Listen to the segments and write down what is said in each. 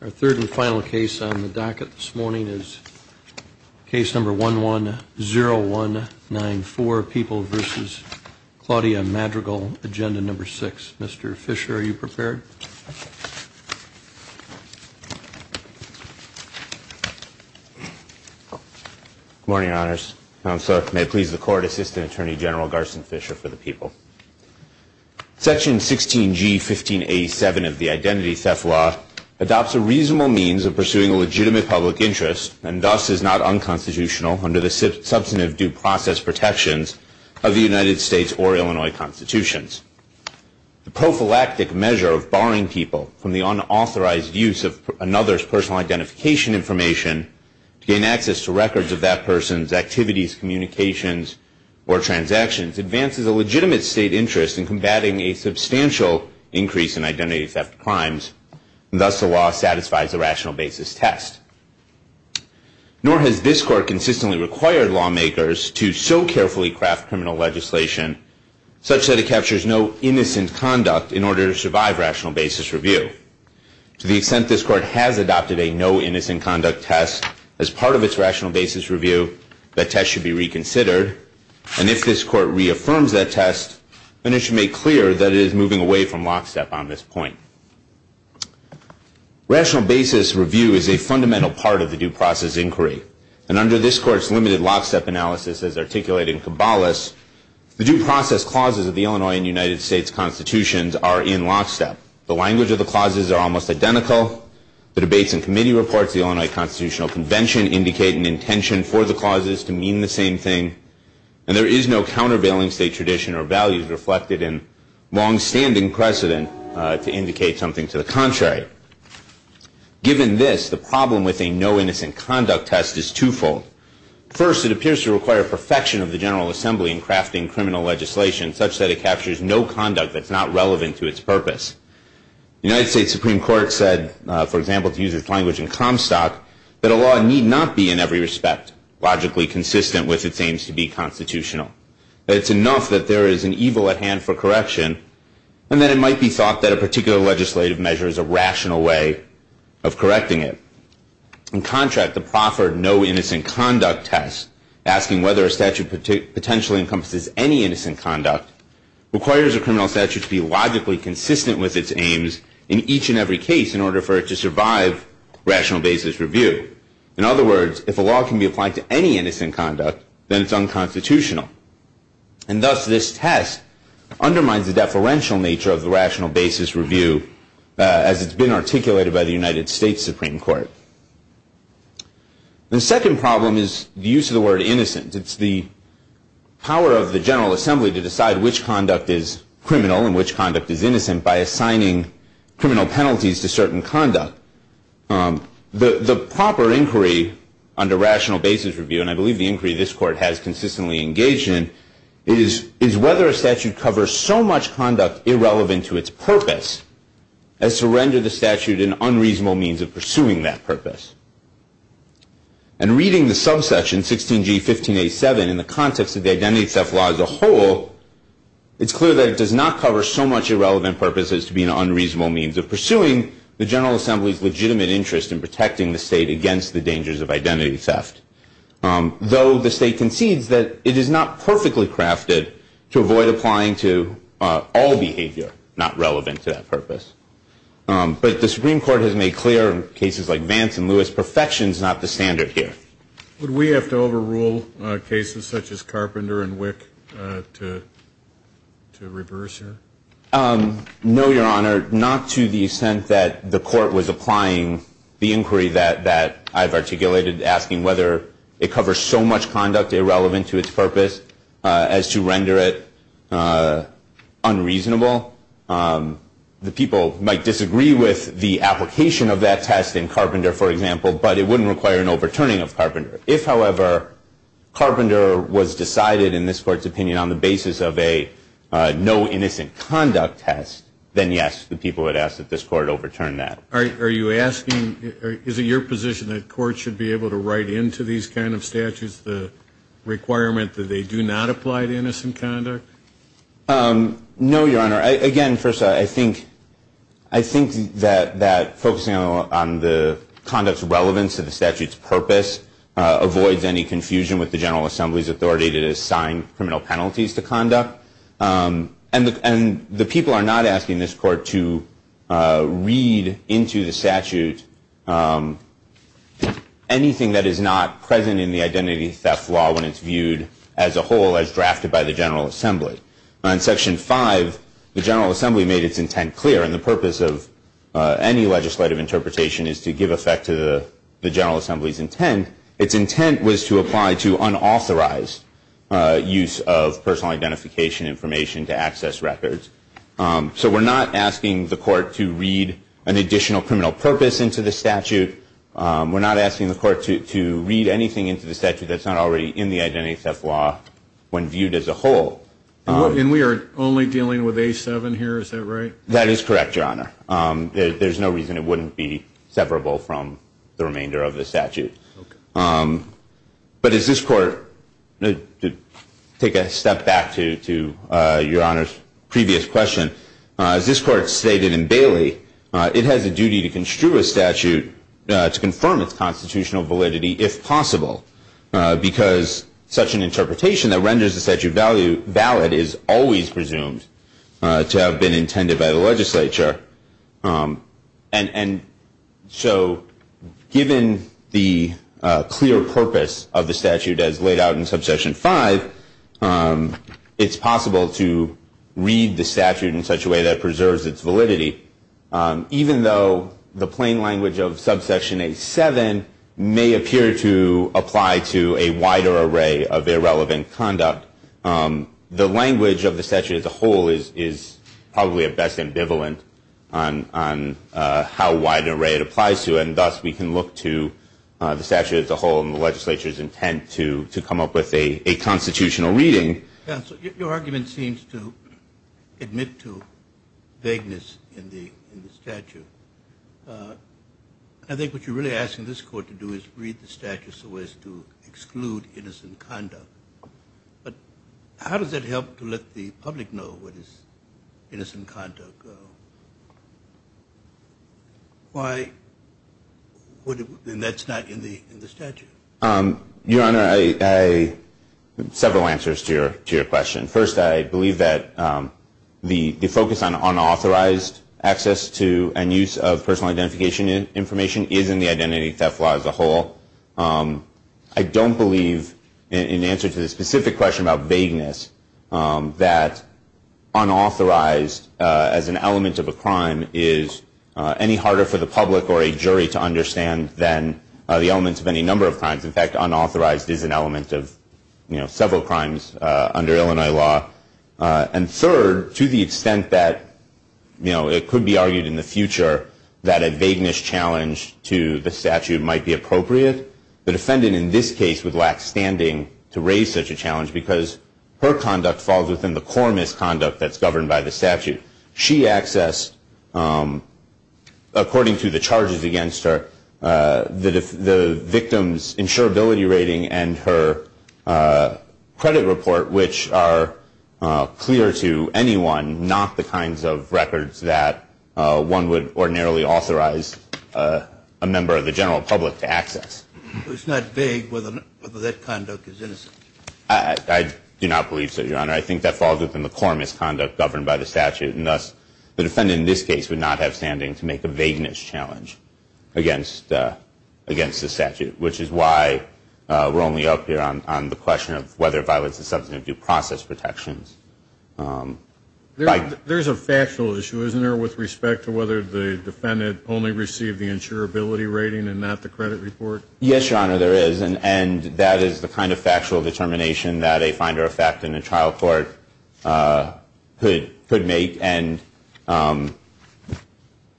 Our third and final case on the docket this morning is case number 110194, People v. Claudia Madrigal, Agenda No. 6. Mr. Fisher, are you prepared? Good morning, Your Honors. May it please the Court, Assistant Attorney General Garson Fisher for the People. Section 16G1587 of the Identity Theft Law adopts a reasonable means of pursuing a legitimate public interest and thus is not unconstitutional under the substantive due process protections of the United States or Illinois Constitutions. The prophylactic measure of barring people from the unauthorized use of another's personal identification information to gain access to records of that person's activities, communications, or transactions advances a legitimate state interest in combating a substantial increase in identity theft crimes, and thus the law satisfies a rational basis test. Nor has this Court consistently required lawmakers to so carefully craft criminal legislation such that it captures no innocent conduct in order to survive rational basis review. To the extent this Court has adopted a no innocent conduct test as part of its rational basis review, that test should be reconsidered, and if this Court reaffirms that test, then it should make clear that it is moving away from lockstep on this point. Rational basis review is a fundamental part of the due process inquiry, and under this Court's limited lockstep analysis as articulated in Caballus, the due process clauses of the Illinois and United States Constitutions are in lockstep. The language of the clauses are almost identical. The debates and committee reports of the Illinois Constitutional Convention indicate an intention for the clauses to mean the same thing, and there is no countervailing state tradition or values reflected in longstanding precedent to indicate something to the contrary. Given this, the problem with a no innocent conduct test is twofold. First, it appears to require perfection of the General Assembly in crafting criminal legislation such that it captures no conduct that's not relevant to its purpose. The United States Supreme Court said, for example, to use its language in Comstock, that a law need not be in every respect logically consistent with its aims to be constitutional, that it's enough that there is an evil at hand for correction, and that it might be thought that a particular legislative measure is a rational way of correcting it. In contract, the proffered no innocent conduct test, asking whether a statute potentially encompasses any innocent conduct, requires a criminal statute to be logically consistent with its aims in each and every case in order for it to survive rational basis review. In other words, if a law can be applied to any innocent conduct, then it's unconstitutional. And thus, this test undermines the deferential nature of the rational basis review as it's been articulated by the United States Supreme Court. The second problem is the use of the word innocent. It's the power of the General Assembly to decide which conduct is criminal and which conduct is innocent by assigning criminal penalties to certain conduct. The proper inquiry under rational basis review, and I believe the inquiry this Court has consistently engaged in, is whether a statute covers so much conduct irrelevant to its purpose as to render the statute an unreasonable means of pursuing that purpose. And reading the subsection 16G1587 in the context of the identity theft law as a whole, it's clear that it does not cover so much irrelevant purpose as to be an unreasonable means of pursuing the General Assembly's legitimate interest in protecting the state against the dangers of identity theft. Though the state concedes that it is not perfectly crafted to avoid applying to all behavior not relevant to that purpose. But the Supreme Court has made clear in cases like Vance and Lewis, perfection is not the standard here. Would we have to overrule cases such as Carpenter and Wick to reverse here? No, Your Honor. Not to the extent that the Court was applying the inquiry that I've articulated asking whether it covers so much conduct irrelevant to its purpose as to render it unreasonable. The people might disagree with the application of that test in Carpenter, for example, but it wouldn't require an overturning of Carpenter. If, however, Carpenter was decided in this Court's opinion on the basis of a no innocent conduct test, then yes, the people would ask that this Court overturn that. Are you asking, is it your position that courts should be able to write into these kind of statutes the requirement that they do not apply to innocent conduct? No, Your Honor. Again, first, I think that focusing on the conduct's relevance to the statute's purpose avoids any confusion with the General Assembly's authority to assign criminal penalties to conduct. And the people are not asking this Court to read into the statute anything that is not present in the identity theft law when it's viewed as a whole as drafted by the General Assembly. In Section 5, the General Assembly made its intent clear, and the purpose of any legislative interpretation is to give effect to the General Assembly's intent. Its intent was to apply to unauthorized use of personal identification information to access records. So we're not asking the Court to read an additional criminal purpose into the statute. We're not asking the Court to read anything into the statute that's not already in the identity theft law when viewed as a whole. And we are only dealing with A7 here, is that right? That is correct, Your Honor. There's no reason it wouldn't be severable from the remainder of the statute. But as this Court, to take a step back to Your Honor's previous question, as this Court stated in Bailey, it has a duty to construe a statute to confirm its constitutional validity, if possible, because such an interpretation that renders the statute valid is always presumed to have been intended by the legislature. And so given the clear purpose of the statute as laid out in Subsection 5, it's possible to read the statute in such a way that preserves its validity, even though the plain language of Subsection A7 may appear to apply to a wider array of irrelevant conduct. The language of the statute as a whole is probably best ambivalent on how wide an array it applies to, and thus we can look to the statute as a whole and the legislature's intent to come up with a constitutional reading. Counsel, your argument seems to admit to vagueness in the statute. I think what you're really asking this Court to do is read the statute so as to exclude innocent conduct. But how does that help to let the public know what is innocent conduct? And that's not in the statute. Your Honor, I have several answers to your question. First, I believe that the focus on unauthorized access to and use of personal identification information is in the identity theft law as a whole. I don't believe, in answer to the specific question about vagueness, that unauthorized as an element of a crime is any harder for the public or a jury to understand than the elements of any number of crimes. In fact, unauthorized is an element of several crimes under Illinois law. And third, to the extent that it could be argued in the future that a vagueness challenge to the statute might be appropriate, the defendant in this case would lack standing to raise such a challenge because her conduct falls within the core misconduct that's governed by the statute. She accessed, according to the charges against her, the victim's insurability rating and her credit report, which are clear to anyone, not the kinds of records that one would ordinarily authorize a member of the general public to access. It's not vague whether that conduct is innocent. I do not believe so, Your Honor. I think that falls within the core misconduct governed by the statute, and thus the defendant in this case would not have standing to make a vagueness challenge against the statute, which is why we're only up here on the question of whether violence is something of due process protections. There's a factual issue, isn't there, with respect to whether the defendant only received the insurability rating and not the credit report? Yes, Your Honor, there is, and that is the kind of factual determination that a finder of fact in a trial court could make. And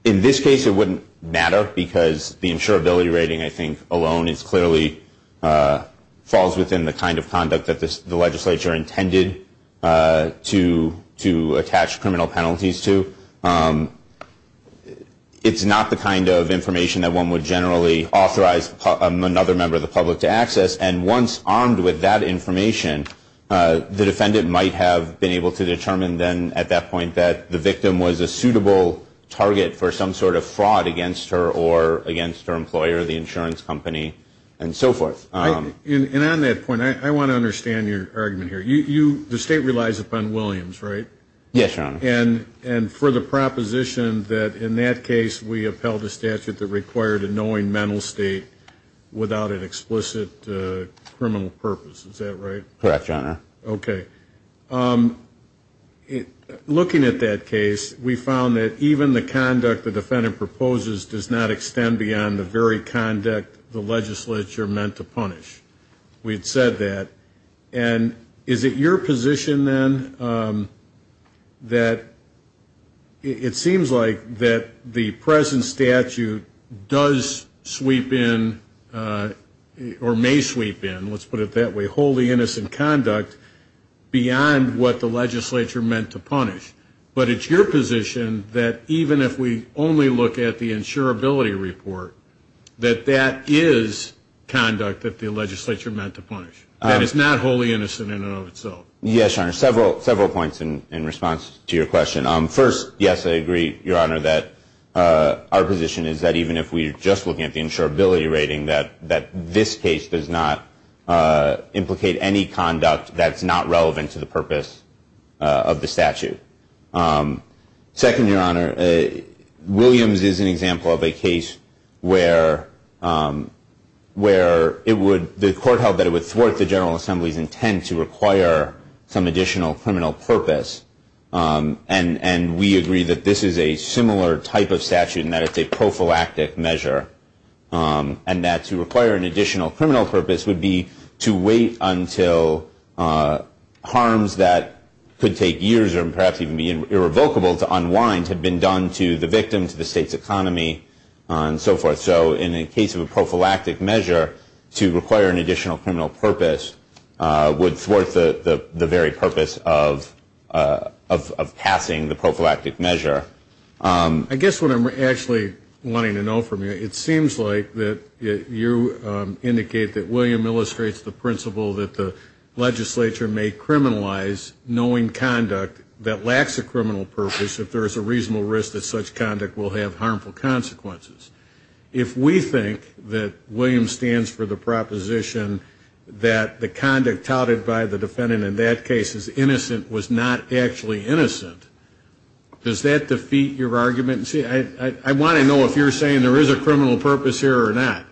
in this case it wouldn't matter because the insurability rating, I think, alone, clearly falls within the kind of conduct that the legislature intended to attach criminal penalties to. It's not the kind of information that one would generally authorize another member of the public to access, and once armed with that information, the defendant might have been able to determine then, at that point, that the victim was a suitable target for some sort of fraud against her or against her employer, the insurance company, and so forth. And on that point, I want to understand your argument here. The state relies upon Williams, right? Yes, Your Honor. And for the proposition that in that case we upheld a statute that required a knowing mental state without an explicit criminal purpose, is that right? Correct, Your Honor. Okay. Looking at that case, we found that even the conduct the defendant proposes does not extend beyond the very conduct the legislature meant to punish. We had said that. And is it your position then that it seems like that the present statute does sweep in or may sweep in, let's put it that way, wholly innocent conduct beyond what the legislature meant to punish, but it's your position that even if we only look at the insurability report, that that is conduct that the legislature meant to punish, that it's not wholly innocent in and of itself? Yes, Your Honor. Several points in response to your question. First, yes, I agree, Your Honor, that our position is that even if we are just looking at the insurability rating, that this case does not implicate any conduct that's not relevant to the purpose of the statute. Second, Your Honor, Williams is an example of a case where the court held that it would thwart the General Assembly's intent to require some additional criminal purpose, and we agree that this is a similar type of statute in that it's a prophylactic measure, and that to require an additional criminal purpose would be to wait until harms that could take years or perhaps even be irrevocable to unwind had been done to the victim, to the state's economy, and so forth. So in the case of a prophylactic measure, to require an additional criminal purpose would thwart the very purpose of passing the prophylactic measure. I guess what I'm actually wanting to know from you, that you indicate that William illustrates the principle that the legislature may criminalize knowing conduct that lacks a criminal purpose if there is a reasonable risk that such conduct will have harmful consequences. If we think that Williams stands for the proposition that the conduct touted by the defendant in that case is innocent was not actually innocent, does that defeat your argument? I want to know if you're saying there is a criminal purpose here or not.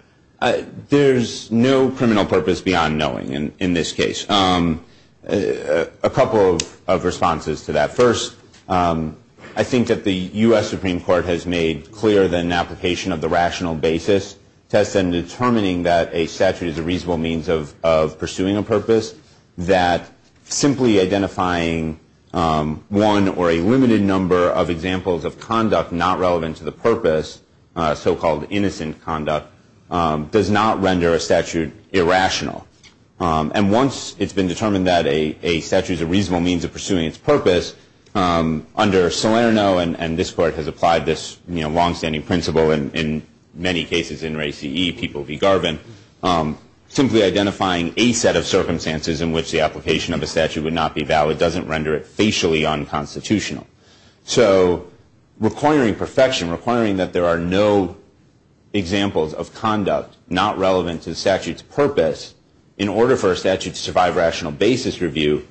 There's no criminal purpose beyond knowing in this case. A couple of responses to that. First, I think that the U.S. Supreme Court has made clearer than an application of the rational basis test in determining that a statute is a reasonable means of pursuing a purpose, that simply identifying one or a limited number of examples of conduct not relevant to the purpose, so-called innocent conduct, does not render a statute irrational. And once it's been determined that a statute is a reasonable means of pursuing its purpose, under Salerno, and this Court has applied this long-standing principle in many cases, simply identifying a set of circumstances in which the application of a statute would not be valid doesn't render it facially unconstitutional. So requiring perfection, requiring that there are no examples of conduct not relevant to the statute's purpose, in order for a statute to survive rational basis review,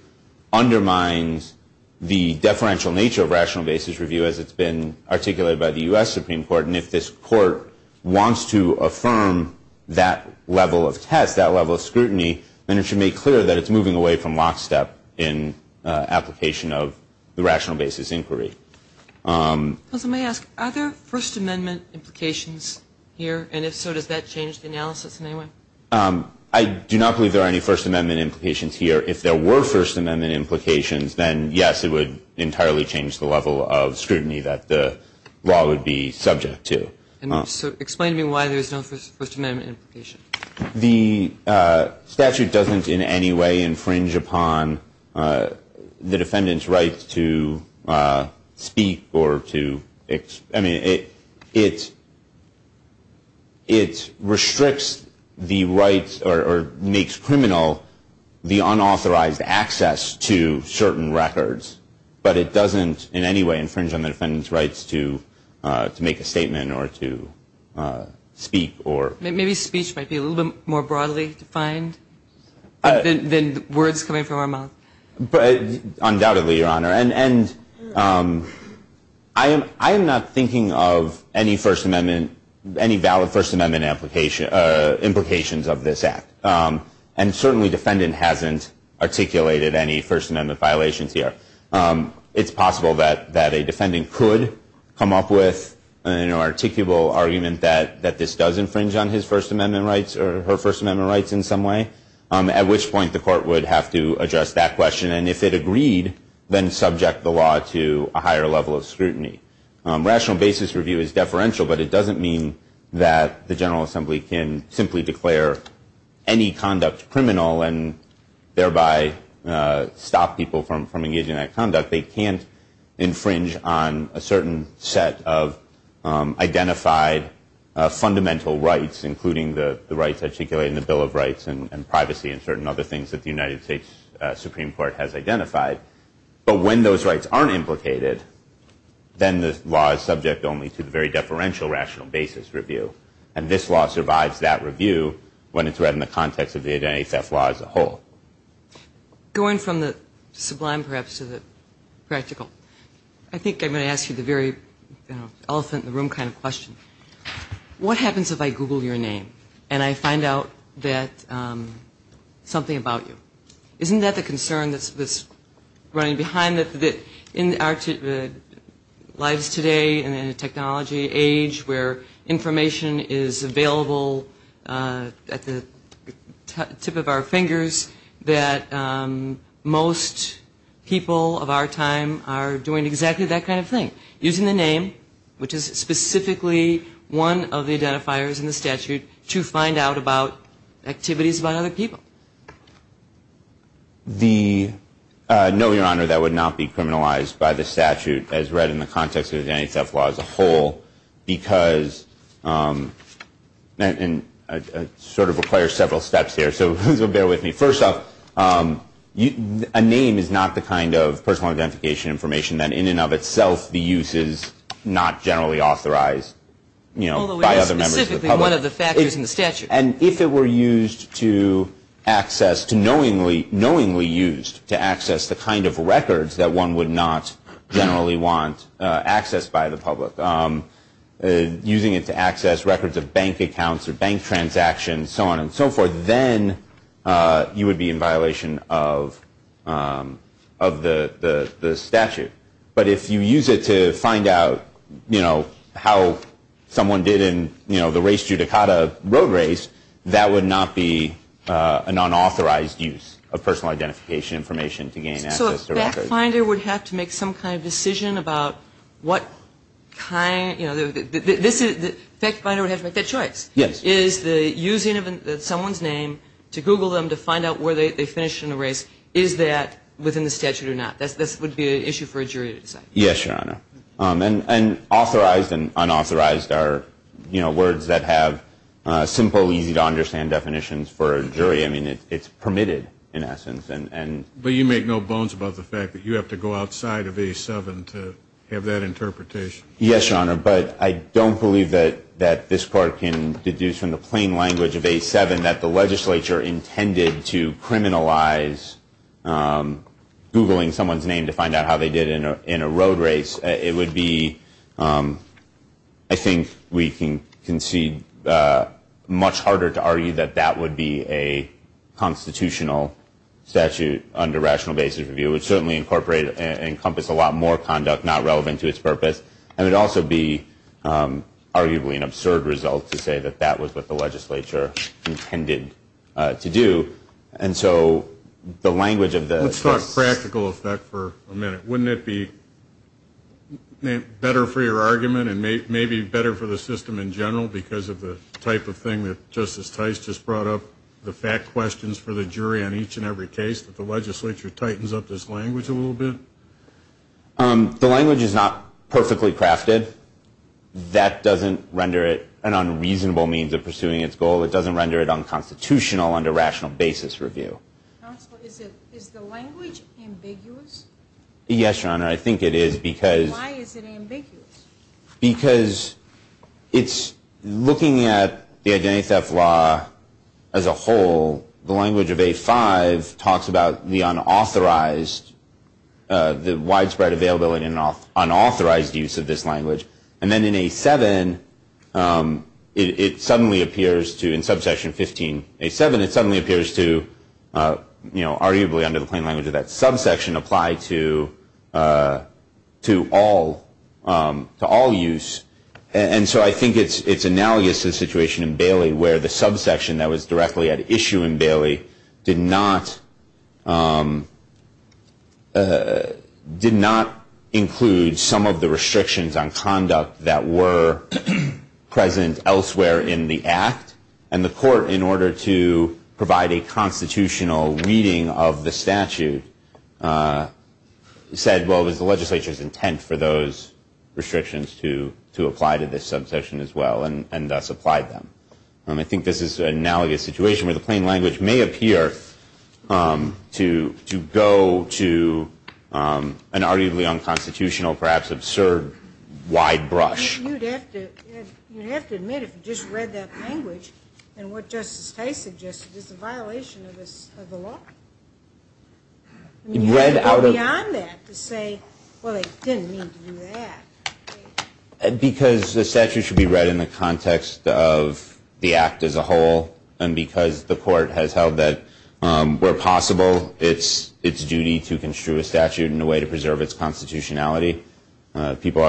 undermines the deferential nature of rational basis review as it's been articulated by the U.S. Supreme Court. And if this Court wants to affirm that level of test, that level of scrutiny, then it should make clear that it's moving away from lockstep in application of the rational basis inquiry. Let me ask, are there First Amendment implications here? And if so, does that change the analysis in any way? I do not believe there are any First Amendment implications here. If there were First Amendment implications, then yes, it would entirely change the level of scrutiny that the law would be subject to. So explain to me why there's no First Amendment implication. The statute doesn't in any way infringe upon the defendant's right to speak or to, I mean, it restricts the rights or makes criminal the unauthorized access to certain records, but it doesn't in any way infringe on the defendant's rights to make a statement or to speak. Maybe speech might be a little bit more broadly defined than words coming from our mouth. Undoubtedly, Your Honor. And I am not thinking of any First Amendment, any valid First Amendment implications of this act. And certainly defendant hasn't articulated any First Amendment violations here. It's possible that a defendant could come up with an articulable argument that this does infringe on his First Amendment rights or her First Amendment rights in some way, at which point the court would have to address that question. And if it agreed, then subject the law to a higher level of scrutiny. Rational basis review is deferential, but it doesn't mean that the General Assembly can simply declare any conduct criminal and thereby stop people from engaging in that conduct. They can't infringe on a certain set of identified fundamental rights, including the rights articulated in the Bill of Rights and privacy and certain other things that the United States Supreme Court has identified. But when those rights aren't implicated, then the law is subject only to the very deferential rational basis review. And this law survives that review when it's read in the context of the identity theft law as a whole. Going from the sublime, perhaps, to the practical, I think I'm going to ask you the very elephant in the room kind of question. What happens if I Google your name and I find out that something about you? Isn't that the concern that's running behind the lives today in a technology age where information is available at the tip of our fingers, that most people of our time are doing exactly that kind of thing, using the name, which is specifically one of the identifiers in the statute, to find out about activities by other people? No, Your Honor, that would not be criminalized by the statute as read in the context of the identity theft law as a whole because it sort of requires several steps here, so bear with me. First off, a name is not the kind of personal identification information that in and of itself the use is not generally authorized by other members of the public. Although it is specifically one of the factors in the statute. And if it were used to access, knowingly used to access the kind of records that one would not generally want access by the public, using it to access records of bank accounts or bank transactions, so on and so forth, then you would be in violation of the statute. But if you use it to find out how someone did in the race judicata road race, that would not be an unauthorized use of personal identification information to gain access to records. So a fact finder would have to make some kind of decision about what kind, you know, the fact finder would have to make that choice. Yes. Is the using of someone's name to Google them to find out where they finished in the race, is that within the statute or not? This would be an issue for a jury to decide. Yes, Your Honor. And authorized and unauthorized are, you know, words that have simple, easy to understand definitions for a jury. I mean, it's permitted in essence. But you make no bones about the fact that you have to go outside of A7 to have that interpretation. Yes, Your Honor. But I don't believe that this court can deduce from the plain language of A7 that the legislature intended to criminalize Googling someone's name to find out how they did in a road race. It would be, I think we can concede, much harder to argue that that would be a constitutional statute under rational basis review. It would certainly incorporate and encompass a lot more conduct not relevant to its purpose. And it would also be arguably an absurd result to say that that was what the legislature intended to do. And so the language of the. Let's talk practical effect for a minute. Wouldn't it be better for your argument and maybe better for the system in general because of the type of thing that Justice Tice just brought up, the fact questions for the jury on each and every case, that the legislature tightens up this language a little bit? The language is not perfectly crafted. That doesn't render it an unreasonable means of pursuing its goal. It doesn't render it unconstitutional under rational basis review. Is the language ambiguous? Yes, Your Honor. I think it is because. Why is it ambiguous? Because it's looking at the identity theft law as a whole, the language of A5 talks about the unauthorized, the widespread availability and unauthorized use of this language. And then in A7, it suddenly appears to, in subsection 15A7, it suddenly appears to arguably under the plain language of that subsection apply to all use. And so I think it's analogous to the situation in Bailey where the subsection that was directly at issue in Bailey did not include some of the restrictions on conduct that were present elsewhere in the act. And the court, in order to provide a constitutional reading of the statute, said, well, it was the legislature's intent for those restrictions to apply to this subsection as well and thus applied them. I think this is an analogous situation where the plain language may appear to go to an arguably unconstitutional, perhaps absurd, wide brush. You'd have to admit if you just read that language and what Justice Tate suggested, it's a violation of the law. You read beyond that to say, well, they didn't mean to do that. Because the statute should be read in the context of the act as a whole and because the court has held that, where possible, it's duty to construe a statute in a way to preserve its constitutionality. Aren't people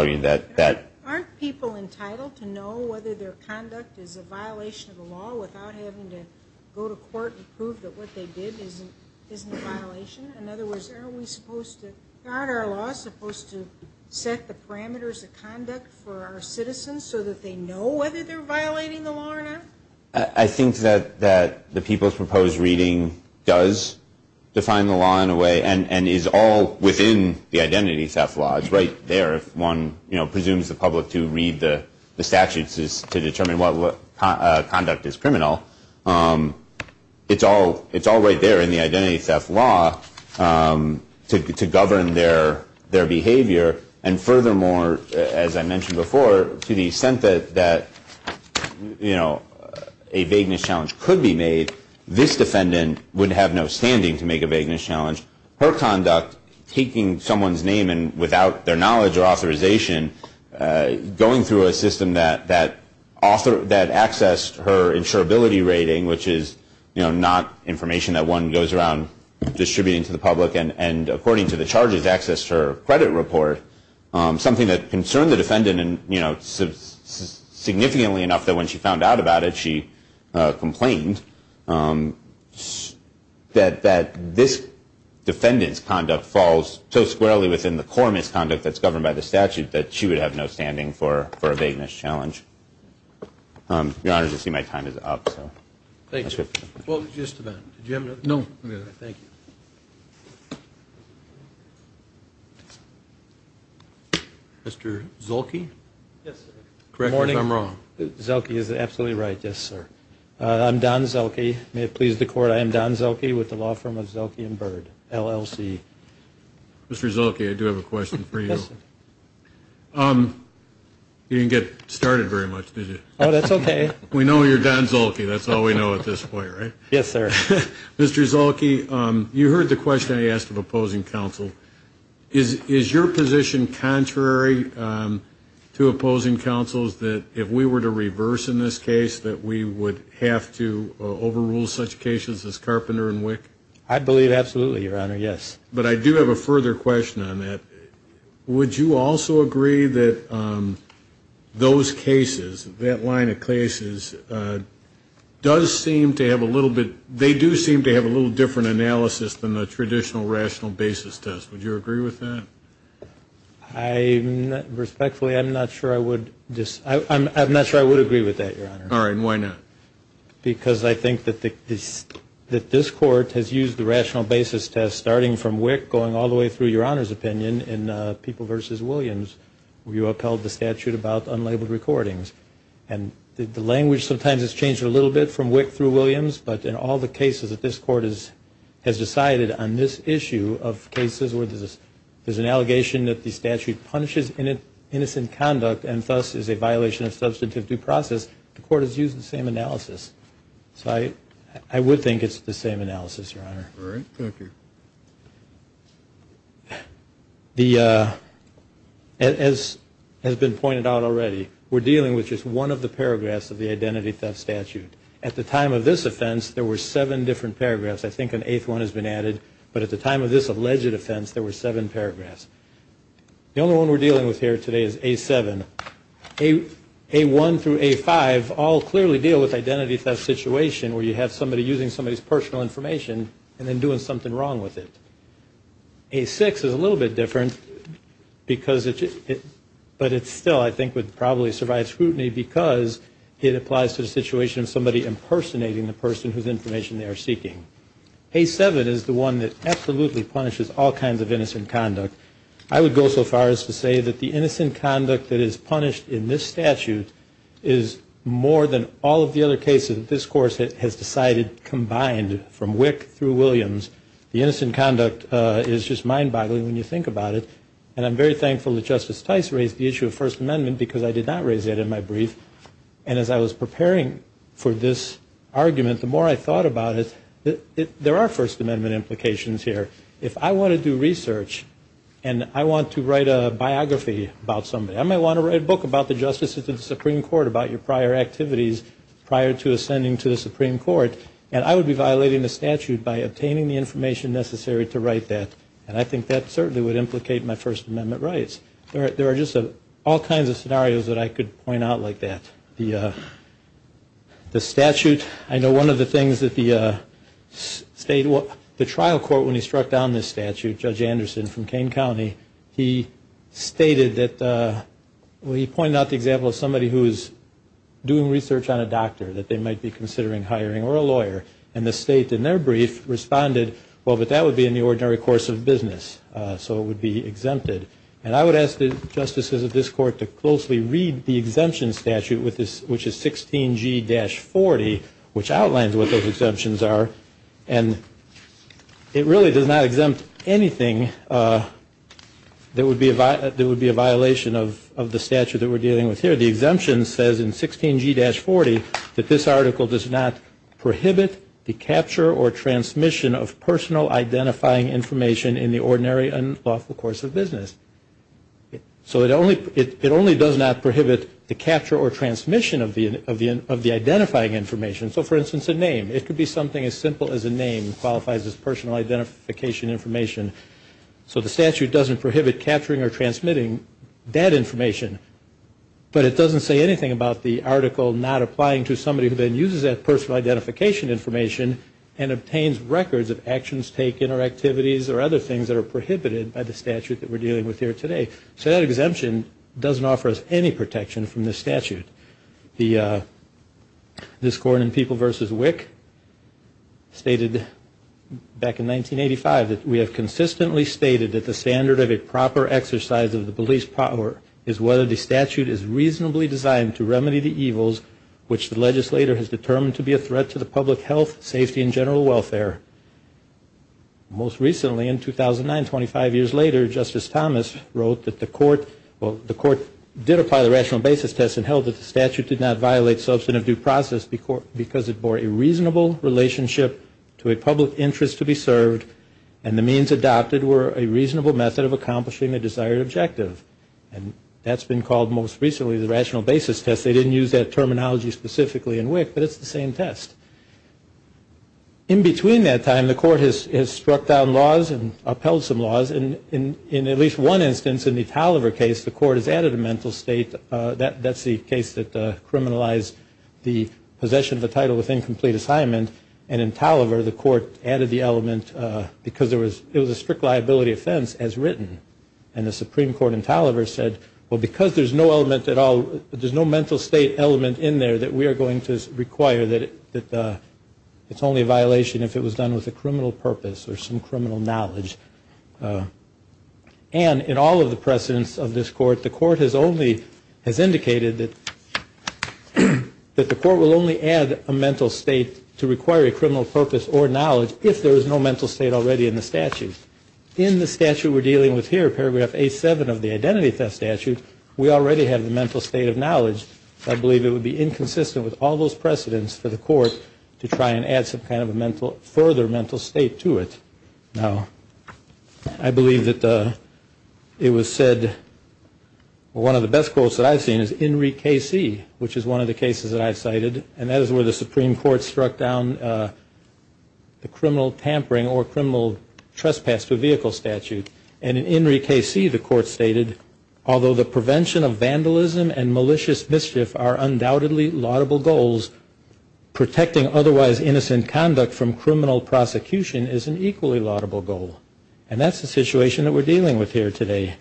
entitled to know whether their conduct is a violation of the law without having to go to court and prove that what they did isn't a violation? In other words, aren't we supposed to guard our laws, supposed to set the parameters of conduct for our citizens so that they know whether they're violating the law or not? I think that the people's proposed reading does define the law in a way and is all within the identity theft law. It's right there if one presumes the public to read the statutes to determine what conduct is criminal. It's all right there in the identity theft law to govern their behavior. And furthermore, as I mentioned before, to the extent that a vagueness challenge could be made, this defendant would have no standing to make a vagueness challenge. Her conduct, taking someone's name and without their knowledge or authorization, going through a system that accessed her insurability rating, which is not information that one goes around distributing to the public, and according to the charges accessed her credit report, something that concerned the defendant significantly enough that when she found out about it, she complained that this defendant's conduct falls so squarely within the core misconduct that's governed by the statute that she would have no standing for a vagueness challenge. Your Honor, as you see, my time is up. Thank you. Well, just a minute. Did you have another question? No, I'm good. Thank you. Mr. Zuelke? Yes, sir. Correct me if I'm wrong. Zuelke is absolutely right, yes, sir. I'm Don Zuelke. May it please the Court, I am Don Zuelke with the law firm of Zuelke and Bird, LLC. Mr. Zuelke, I do have a question for you. You didn't get started very much, did you? Oh, that's okay. We know you're Don Zuelke. That's all we know at this point, right? Yes, sir. Mr. Zuelke, you heard the question I asked of opposing counsel. Is your position contrary to opposing counsel's that if we were to reverse in this case, that we would have to overrule such cases as Carpenter and Wick? I believe absolutely, Your Honor, yes. But I do have a further question on that. Would you also agree that those cases, that line of cases, does seem to have a little bit, they do seem to have a little different analysis than the traditional rational basis does? Would you agree with that? Respectfully, I'm not sure I would agree with that, Your Honor. All right. And why not? Because I think that this Court has used the rational basis test, starting from Wick going all the way through Your Honor's opinion in People v. Williams, where you upheld the statute about unlabeled recordings. And the language sometimes has changed a little bit from Wick through Williams, but in all the cases that this Court has decided on this issue of cases where there's an allegation that the statute punishes innocent conduct and thus is a violation of substantive due process, the Court has used the same analysis. So I would think it's the same analysis, Your Honor. All right. Thank you. As has been pointed out already, we're dealing with just one of the paragraphs of the identity theft statute. At the time of this offense, there were seven different paragraphs. I think an eighth one has been added. But at the time of this alleged offense, there were seven paragraphs. The only one we're dealing with here today is A7. A1 through A5 all clearly deal with identity theft situation where you have somebody using somebody's personal information and then doing something wrong with it. A6 is a little bit different, but it still, I think, would probably survive scrutiny because it applies to the situation of somebody impersonating the person whose information they are seeking. A7 is the one that absolutely punishes all kinds of innocent conduct. I would go so far as to say that the innocent conduct that is punished in this statute is more than all of the other cases that this Court has decided combined, from Wick through Williams. The innocent conduct is just mind-boggling when you think about it. And I'm very thankful that Justice Tice raised the issue of First Amendment because I did not raise that in my brief. And as I was preparing for this argument, the more I thought about it, there are First Amendment implications here. If I want to do research and I want to write a biography about somebody, I might want to write a book about the Justice of the Supreme Court, about your prior activities prior to ascending to the Supreme Court, and I would be violating the statute by obtaining the information necessary to write that. And I think that certainly would implicate my First Amendment rights. There are just all kinds of scenarios that I could point out like that. The statute, I know one of the things that the trial court, when he struck down this statute, Judge Anderson from Kane County, he stated that he pointed out the example of somebody who is doing research on a doctor that they might be considering hiring or a lawyer. And the state in their brief responded, well, but that would be in the ordinary course of business, so it would be exempted. And I would ask the justices of this Court to closely read the exemption statute, which is 16G-40, which outlines what those exemptions are. And it really does not exempt anything that would be a violation of the statute that we're dealing with here. The exemption says in 16G-40 that this article does not prohibit the capture or transmission of personal identifying information in the ordinary and lawful course of business. So it only does not prohibit the capture or transmission of the identifying information. So, for instance, a name. It could be something as simple as a name qualifies as personal identification information. So the statute doesn't prohibit capturing or transmitting that information, but it doesn't say anything about the article not applying to somebody who then uses that personal identification information and obtains records of actions taken or activities or other things that are prohibited by the statute that we're dealing with here today. So that exemption doesn't offer us any protection from this statute. The Discourse on People v. WIC stated back in 1985 that we have consistently stated that the standard of a proper exercise of the police power is whether the statute is reasonably designed to remedy the evils which the legislator has determined to be a threat to the public health, safety, and general welfare. Most recently, in 2009, 25 years later, Justice Thomas wrote that the court did apply the rational basis test and held that the statute did not violate substantive due process because it bore a reasonable relationship to a public interest to be served and the means adopted were a reasonable method of accomplishing a desired objective. And that's been called most recently the rational basis test. They didn't use that terminology specifically in WIC, but it's the same test. In between that time, the court has struck down laws and upheld some laws. In at least one instance in the Taliver case, the court has added a mental state. That's the case that criminalized the possession of the title with incomplete assignment. And in Taliver, the court added the element because it was a strict liability offense as written. And the Supreme Court in Taliver said, well, because there's no mental state element in there that we are going to require that it's only a violation if it was done with a criminal purpose or some criminal knowledge. And in all of the precedents of this court, the court has indicated that the court will only add a mental state to require a criminal purpose or knowledge if there is no mental state already in the statute. In the statute we're dealing with here, Paragraph A7 of the Identity Theft Statute, we already have the mental state of knowledge. I believe it would be inconsistent with all those precedents for the court to try and add some kind of a further mental state to it. Now, I believe that it was said, well, one of the best quotes that I've seen is In Re Casey, which is one of the cases that I've cited. And that is where the Supreme Court struck down the criminal tampering or criminal trespass to vehicle statute. And in In Re Casey, the court stated, although the prevention of vandalism and malicious mischief are undoubtedly laudable goals, protecting otherwise innocent conduct from criminal prosecution is an equally laudable goal. And that's the situation that we're dealing with here today.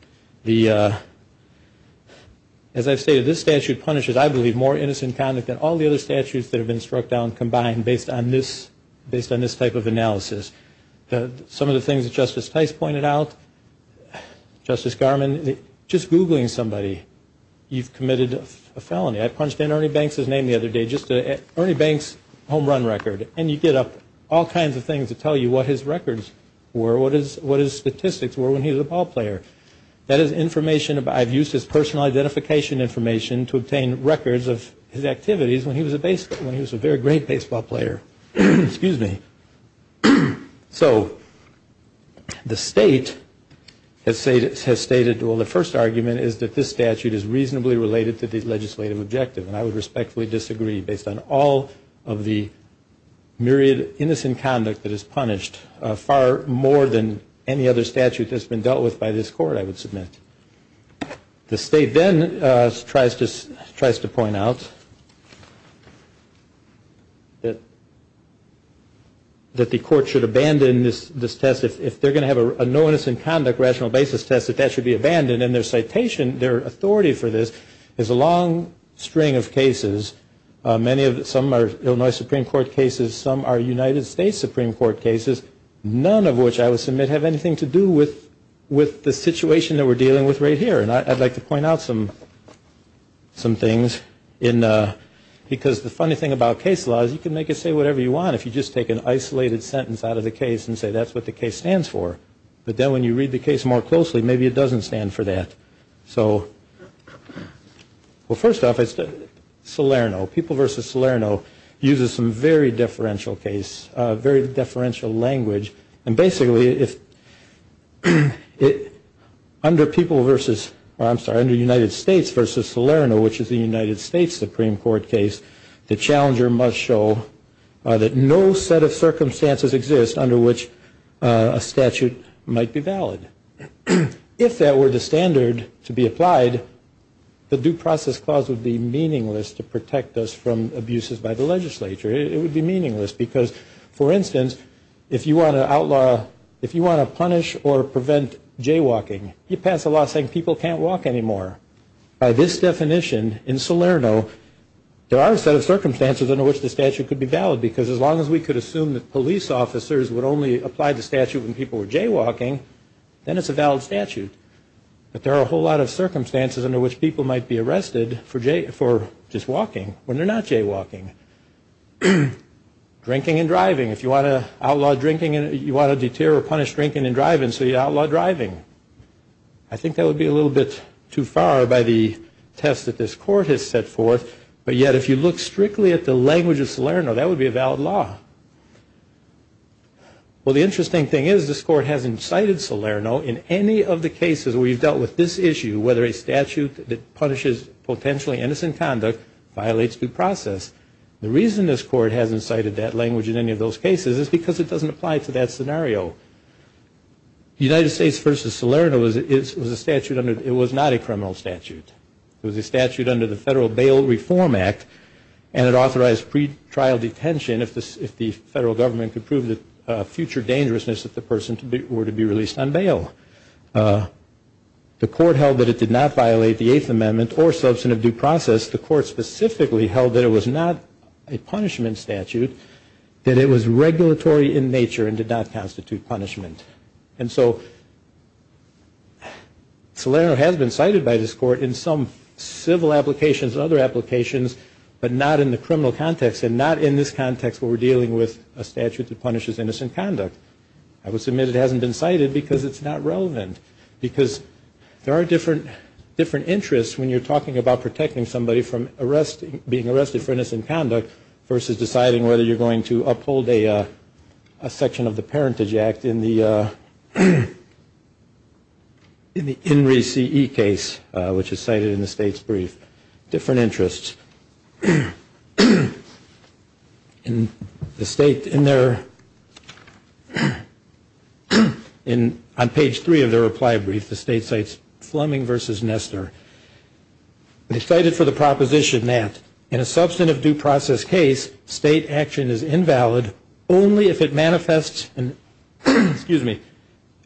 As I've stated, this statute punishes, I believe, more innocent conduct than all the other statutes that have been struck down combined based on this type of analysis. Some of the things that Justice Tice pointed out, Justice Garmon, just Googling somebody, you've committed a felony. I punched in Ernie Banks' name the other day. Ernie Banks' home run record. And you get up all kinds of things to tell you what his records were, what his statistics were when he was a ball player. That is information about, I've used his personal identification information to obtain records of his activities when he was a very great baseball player. Excuse me. So the state has stated, well, the first argument is that this statute is reasonably related to the legislative objective. And I would respectfully disagree based on all of the myriad innocent conduct that is punished, far more than any other statute that's been dealt with by this court, I would submit. The state then tries to point out that the court should abandon this test. If they're going to have a no innocent conduct rational basis test, that that should be abandoned. And their citation, their authority for this is a long string of cases. Some are Illinois Supreme Court cases. Some are United States Supreme Court cases, none of which I would submit have anything to do with the situation that we're dealing with right here. And I'd like to point out some things. Because the funny thing about case law is you can make it say whatever you want if you just take an isolated sentence out of the case and say that's what the case stands for. But then when you read the case more closely, maybe it doesn't stand for that. So, well, first off, it's Salerno. People v. Salerno uses some very deferential case, very deferential language. And basically, under United States v. Salerno, which is a United States Supreme Court case, the challenger must show that no set of circumstances exists under which a statute might be valid. If that were the standard to be applied, the due process clause would be meaningless to protect us from abuses by the legislature. It would be meaningless because, for instance, if you want to outlaw, if you want to punish or prevent jaywalking, you pass a law saying people can't walk anymore. By this definition in Salerno, there are a set of circumstances under which the statute could be valid because as long as we could assume that police officers would only apply the statute when people were jaywalking, then it's a valid statute. But there are a whole lot of circumstances under which people might be arrested for just walking when they're not jaywalking. Drinking and driving. If you want to outlaw drinking, you want to deter or punish drinking and driving, so you outlaw driving. I think that would be a little bit too far by the test that this Court has set forth, but yet if you look strictly at the language of Salerno, that would be a valid law. Well, the interesting thing is this Court hasn't cited Salerno in any of the cases where you've dealt with this issue, whether a statute that punishes potentially innocent conduct violates due process. The reason this Court hasn't cited that language in any of those cases is because it doesn't apply to that scenario. The United States v. Salerno was a statute under the, it was not a criminal statute. It was a statute under the Federal Bail Reform Act, and it authorized pretrial detention if the federal government could prove the future dangerousness if the person were to be released on bail. The Court held that it did not violate the Eighth Amendment or substantive due process. The Court specifically held that it was not a punishment statute, that it was regulatory in nature and did not constitute punishment. And so Salerno has been cited by this Court in some civil applications and other applications, but not in the criminal context, and not in this context where we're dealing with a statute that punishes innocent conduct. I would submit it hasn't been cited because it's not relevant, because there are different interests when you're talking about protecting somebody from being arrested for innocent conduct versus deciding whether you're going to uphold a section of the Parentage Act in the INRI CE case, which is cited in the State's brief. Different interests. In the State, in their, on page three of their reply brief, the State cites Fleming versus Nestor. They cited for the proposition that in a substantive due process case, state action is invalid only if it manifests, excuse me,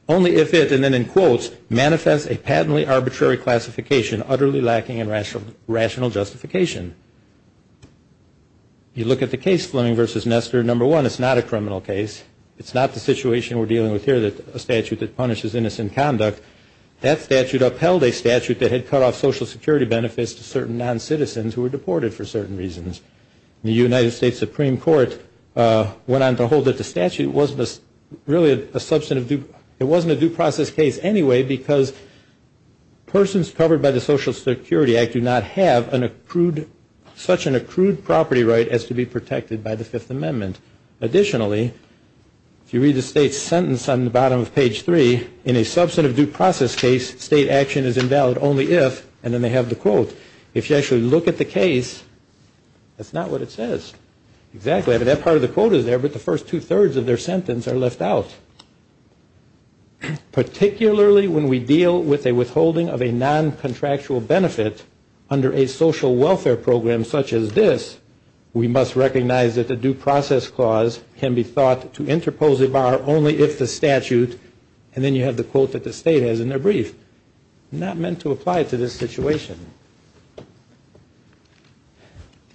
only if it, and then in quotes, manifests a patently arbitrary classification, utterly lacking in rational justification. You look at the case, Fleming versus Nestor, number one, it's not a criminal case. It's not the situation we're dealing with here, a statute that punishes innocent conduct. That statute upheld a statute that had cut off Social Security benefits to certain noncitizens who were deported for certain reasons. The United States Supreme Court went on to hold that the statute wasn't really a substantive due, it wasn't a due process case anyway because persons covered by the Social Security Act do not have an accrued, such an accrued property right as to be protected by the Fifth Amendment. Additionally, if you read the State's sentence on the bottom of page three, in a substantive due process case, state action is invalid only if, and then they have the quote, if you actually look at the case, that's not what it says. Exactly, but that part of the quote is there, but the first two-thirds of their sentence are left out. Particularly when we deal with a withholding of a noncontractual benefit under a social welfare program such as this, we must recognize that the due process clause can be thought to interpose a bar only if the statute, and then you have the quote that the State has in their brief, not meant to apply to this situation.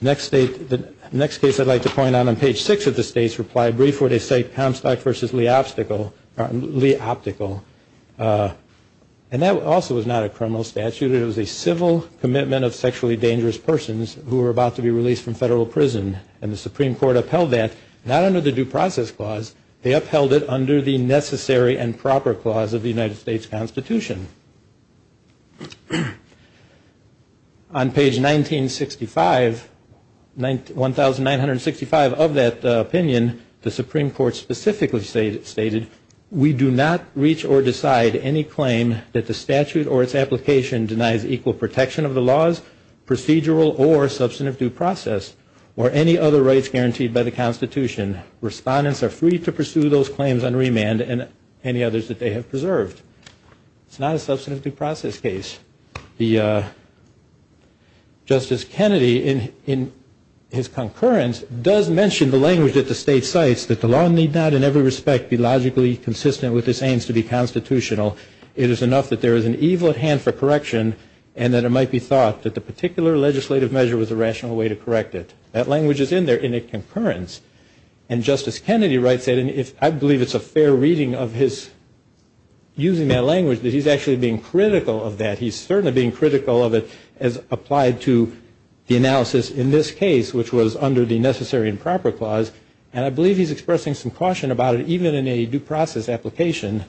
Next case I'd like to point out on page six of the State's reply brief where they cite Comstock v. Lee Optical, and that also was not a criminal statute, it was a civil commitment of sexually dangerous persons who were about to be released from federal prison, and the Supreme Court upheld that, not under the due process clause, they upheld it under the necessary and proper clause of the United States Constitution. On page 1965, 1,965 of that opinion, the Supreme Court specifically stated, we do not reach or decide any claim that the statute or its application denies equal protection of the laws, procedural or substantive due process, or any other rights guaranteed by the Constitution. Respondents are free to pursue those claims on remand and any others that they have preserved. It's not a substantive due process case. Justice Kennedy, in his concurrence, does mention the language that the State cites, that the law need not in every respect be logically consistent with its aims to be constitutional. It is enough that there is an evil at hand for correction, and that it might be thought that the particular legislative measure was a rational way to correct it. That language is in there in a concurrence, and Justice Kennedy writes it, and I believe it's a fair reading of his using that language that he's actually being critical of that. He's certainly being critical of it as applied to the analysis in this case, which was under the necessary and proper clause, and I believe he's expressing some caution about it, in a due process application.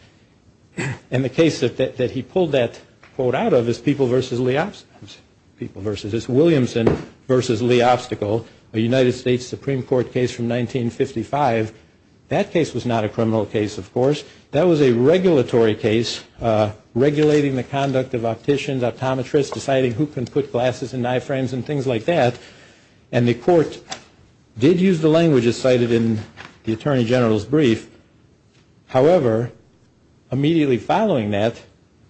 And the case that he pulled that quote out of is People v. Williamson v. Lee Obstacle, a United States Supreme Court case from 1955. That case was not a criminal case, of course. That was a regulatory case, regulating the conduct of opticians, optometrists, deciding who can put glasses and eye frames and things like that. And the court did use the language as cited in the Attorney General's brief. However, immediately following that,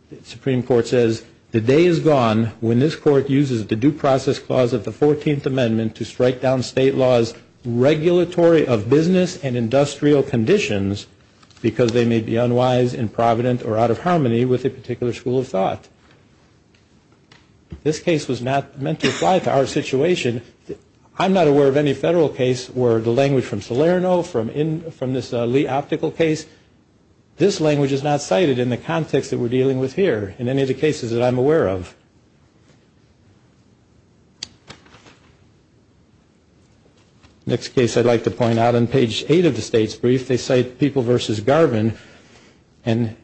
the Supreme Court says, the day is gone when this court uses the due process clause of the 14th Amendment to strike down state laws regulatory of business and industrial conditions, because they may be unwise, improvident, or out of harmony with a particular school of thought. This case was not meant to apply to our situation. I'm not aware of any federal case where the language from Salerno, from this Lee Optical case, this language is not cited in the context that we're dealing with here, in any of the cases that I'm aware of. Next case I'd like to point out, on page 8 of the State's brief, they cite People v. Garvin, and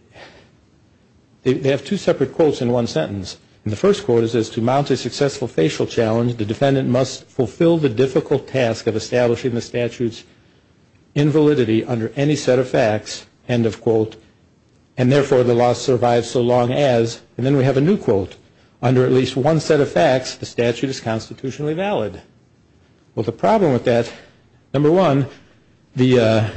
they have two separate quotes in one sentence. And the first quote is, as to mount a successful facial challenge, the defendant must fulfill the difficult task of establishing the statute's invalidity under any set of facts, end of quote, and therefore the law survives so long as, and then we have a new quote, under at least one set of facts, the statute is constitutionally valid. Well, the problem with that, number one, the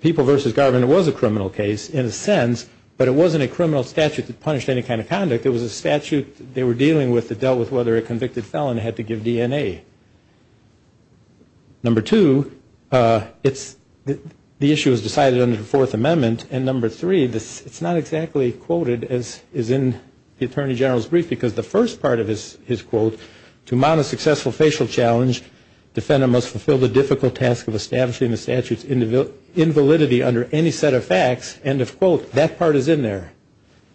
People v. Garvin was a criminal case in a sense, but it wasn't a criminal statute that punished any kind of conduct. It was a statute they were dealing with that dealt with whether a convicted felon had to give DNA. Number two, the issue was decided under the Fourth Amendment, and number three, it's not exactly quoted as is in the Attorney General's brief, because the first part of his quote, to mount a successful facial challenge, the defendant must fulfill the difficult task of establishing the statute's invalidity under any set of facts, end of quote, that part is in there.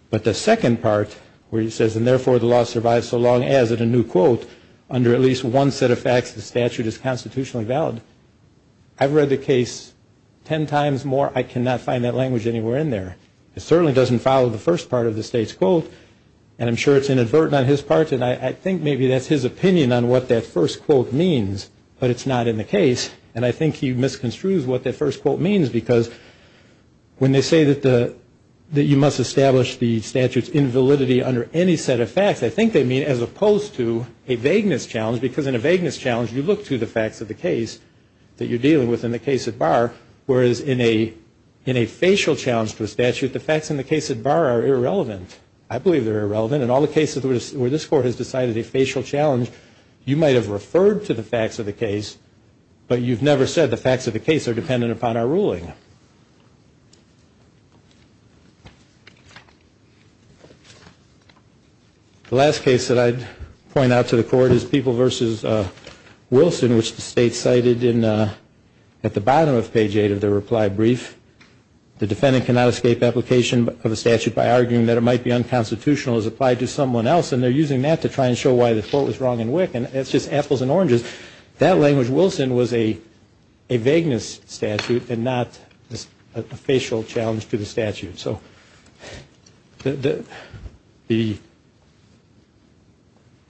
But the second part, where he says, and therefore the law survives so long as, and a new quote, under at least one set of facts, the statute is constitutionally valid, I've read the case ten times more, I cannot find that language anywhere in there. It certainly doesn't follow the first part of the State's quote, and I'm sure it's inadvertent on his part, and I think maybe that's his opinion on what that first quote means, but it's not in the case, and I think he misconstrues what that first quote means, because when they say that you must establish the statute's invalidity under any set of facts, I think they mean as opposed to a vagueness challenge, because in a vagueness challenge, you look to the facts of the case that you're dealing with in the case at bar, whereas in a facial challenge to a statute, the facts in the case at bar are irrelevant. I believe they're irrelevant, and all the cases where this Court has decided a facial challenge, you might have referred to the facts of the case, but you've never said the facts of the case are dependent upon our ruling. The last case that I'd point out to the Court is People v. Wilson, which the State cited at the bottom of page eight of their reply brief. The defendant cannot escape application of a statute by arguing that it might be unconstitutional as applied to someone else, and they're using that to try and show why the quote was wrong in WIC, and it's just apples and oranges. That language, Wilson, was a vagueness statute and not a facial challenge to the statute.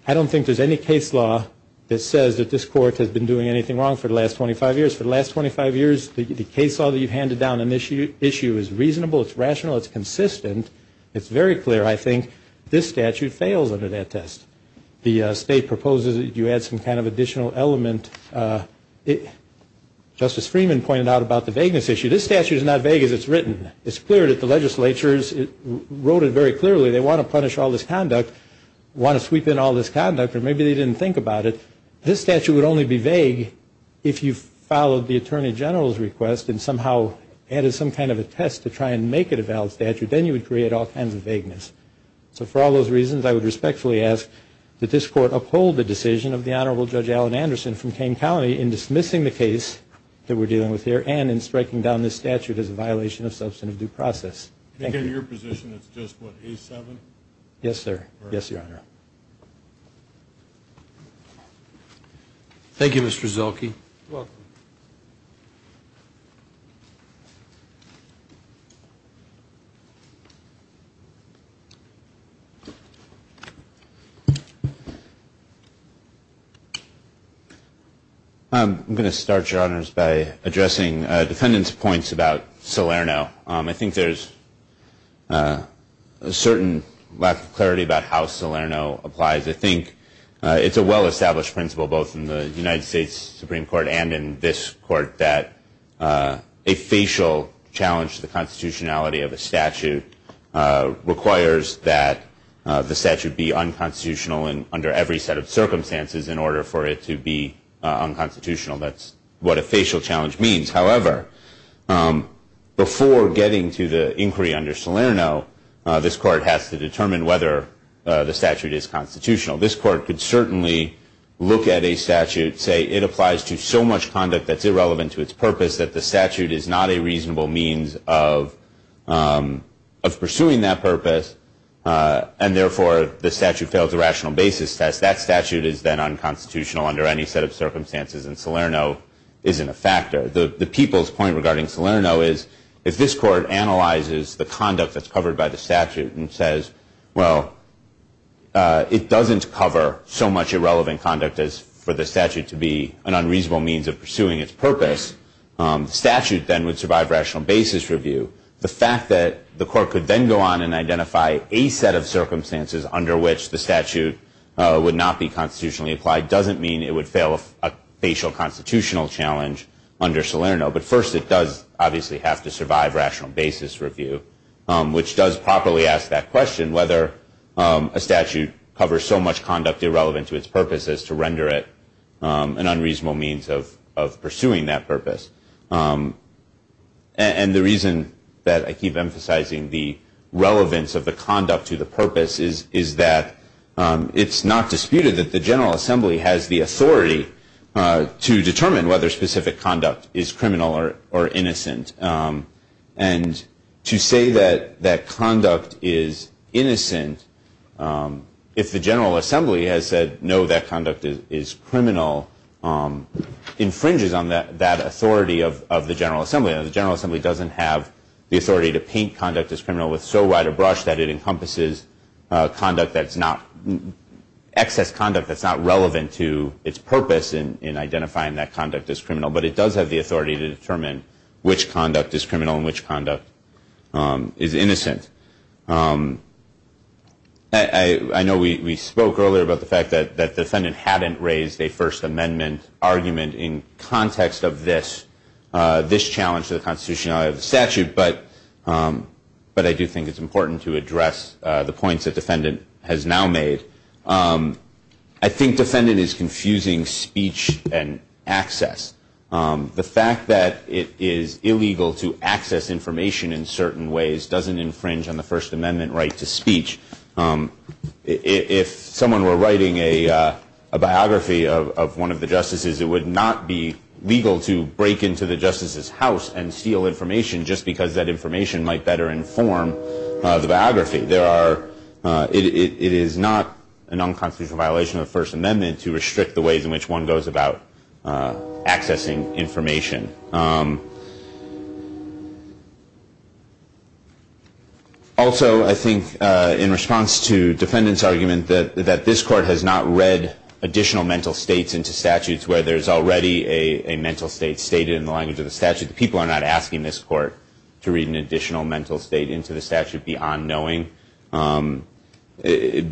I don't think there's any case law that says that this Court has been doing anything wrong for the last 25 years. The case law that you've handed down on this issue is reasonable, it's rational, it's consistent. It's very clear, I think, this statute fails under that test. The State proposes that you add some kind of additional element. Justice Freeman pointed out about the vagueness issue. This statute is not vague as it's written. It's clear that the legislatures wrote it very clearly. They want to punish all this conduct, want to sweep in all this conduct, or maybe they didn't think about it. This statute would only be vague if you followed the Attorney General's request and somehow added some kind of a test to try and make it a valid statute. Then you would create all kinds of vagueness. So for all those reasons, I would respectfully ask that this Court uphold the decision of the Honorable Judge Allen Anderson from Kane County in dismissing the case that we're dealing with here and in striking down this statute as a violation of substantive due process. Thank you. In your position, it's just what, A7? Yes, sir. Yes, Your Honor. Thank you, Mr. Zolke. You're welcome. I'm going to start, Your Honors, by addressing defendants' points about Salerno. I think there's a certain lack of clarity about how Salerno applies. I think it's a well-established principle both in the United States Supreme Court and in this Court that a facial challenge to the constitutionality of a statute requires that the statute be unconstitutional under every set of circumstances in order for it to be unconstitutional. That's what a facial challenge means. However, before getting to the inquiry under Salerno, this Court has to determine whether the statute is constitutional. This Court could certainly look at a statute, say it applies to so much conduct that's irrelevant to its purpose that the statute is not a reasonable means of pursuing that purpose, and therefore the statute fails the rational basis test. That statute is then unconstitutional under any set of circumstances, and Salerno isn't a factor. The people's point regarding Salerno is, if this Court analyzes the conduct that's covered by the statute and says, well, it doesn't cover so much irrelevant conduct as for the statute to be an unreasonable means of pursuing its purpose, the statute then would survive rational basis review. The fact that the Court could then go on and identify a set of circumstances under which the statute would not be constitutionally applied doesn't mean it would fail a facial constitutional challenge under Salerno. But first, it does obviously have to survive rational basis review, which does properly ask that question, whether a statute covers so much conduct irrelevant to its purpose as to render it an unreasonable means of pursuing that purpose. And the reason that I keep emphasizing the relevance of the conduct to the purpose is that it's not disputed that the General Assembly has the authority to determine whether specific conduct is criminal or innocent. And to say that that conduct is innocent, if the General Assembly has said, no, that conduct is criminal, infringes on that authority of the General Assembly. The General Assembly doesn't have the authority to paint conduct as criminal with so wide a brush that it encompasses excess conduct that's not relevant to its purpose in identifying that conduct as criminal. But it does have the authority to determine which conduct is criminal and which conduct is innocent. I know we spoke earlier about the fact that the defendant hadn't raised a First Amendment argument in context of this, this challenge to the constitutionality of the statute. But I do think it's important to address the points the defendant has now made. I think defendant is confusing speech and access. The fact that it is illegal to access information in certain ways doesn't infringe on the First Amendment right to speech. If someone were writing a biography of one of the justices, it would not be legal to break into the justice's house and steal information just because that information might better inform the biography. It is not an unconstitutional violation of the First Amendment to restrict the ways in which one goes about accessing information. Also, I think in response to defendant's argument that this court has not read additional mental states into statutes where there's already a mental state stated in the language of the statute. People are not asking this court to read an additional mental state into the statute beyond knowing. In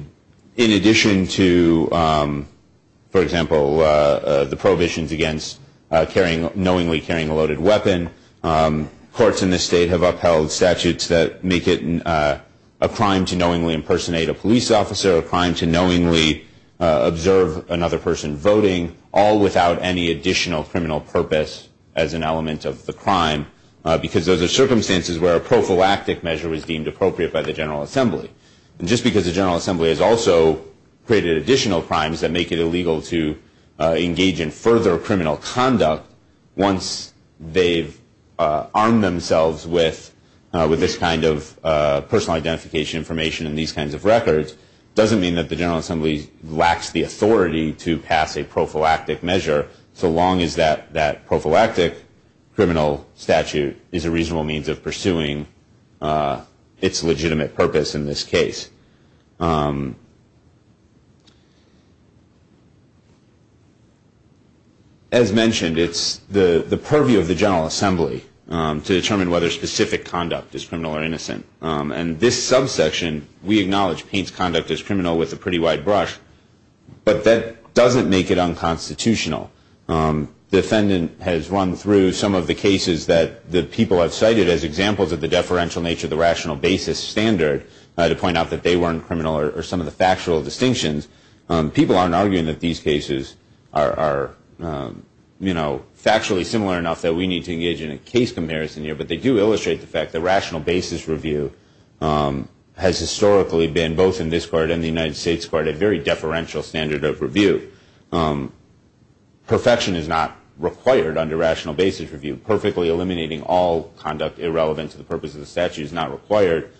addition to, for example, the prohibitions against knowingly carrying a loaded weapon, courts in this state have upheld statutes that make it a crime to knowingly impersonate a police officer, a crime to knowingly observe another person voting, all without any additional criminal purpose as an element of the crime because those are circumstances where a prophylactic measure was deemed appropriate by the General Assembly. And just because the General Assembly has also created additional crimes that make it illegal to engage in further criminal conduct once they've armed themselves with this kind of personal identification information and these kinds of records, doesn't mean that the General Assembly lacks the authority to pass a prophylactic measure so long as that prophylactic criminal statute is a reasonable means of pursuing its legitimate purpose in this case. As mentioned, it's the purview of the General Assembly to determine whether specific conduct is criminal or innocent. And this subsection, we acknowledge Paine's conduct as criminal with a pretty wide brush, but that doesn't make it unconstitutional because the defendant has run through some of the cases that people have cited as examples of the deferential nature of the rational basis standard to point out that they weren't criminal or some of the factual distinctions. People aren't arguing that these cases are factually similar enough that we need to engage in a case comparison here, but they do illustrate the fact that rational basis review has historically been, both in this court and the United States court, a very deferential standard of review. Perfection is not required under rational basis review. Perfectly eliminating all conduct irrelevant to the purpose of the statute is not required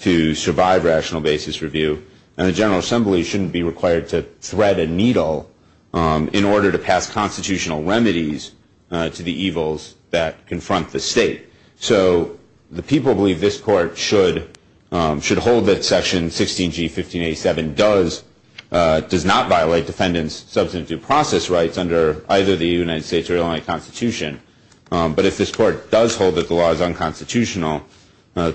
to survive rational basis review. And the General Assembly shouldn't be required to thread a needle in order to pass constitutional remedies to the evils that confront the state. So the people believe this court should hold that Section 16G, 1587 does not violate defendants' substantive process rights under either the United States or Illinois Constitution. But if this court does hold that the law is unconstitutional,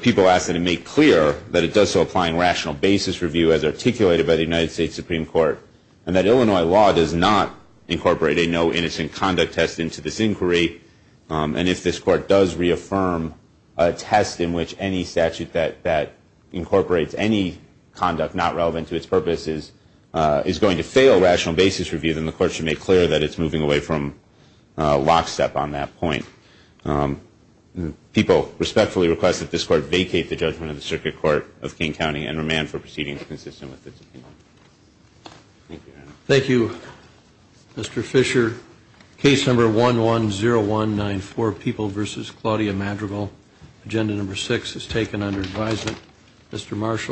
people ask that it make clear that it does so applying rational basis review as articulated by the United States Supreme Court, and that Illinois law does not incorporate a no innocent conduct test into this inquiry. And if this court does reaffirm a test in which any statute that incorporates any conduct not relevant to its purpose is going to fail rational basis review, then the court should make clear that it's moving away from lockstep on that point. People respectfully request that this court vacate the judgment of the Circuit Court of King County and remand for proceedings consistent with this opinion. Thank you, Your Honor. Thank you, Mr. Fisher. Case number 110194, People v. Claudia Madrigal. Agenda number six is taken under advisement. Mr. Marshall.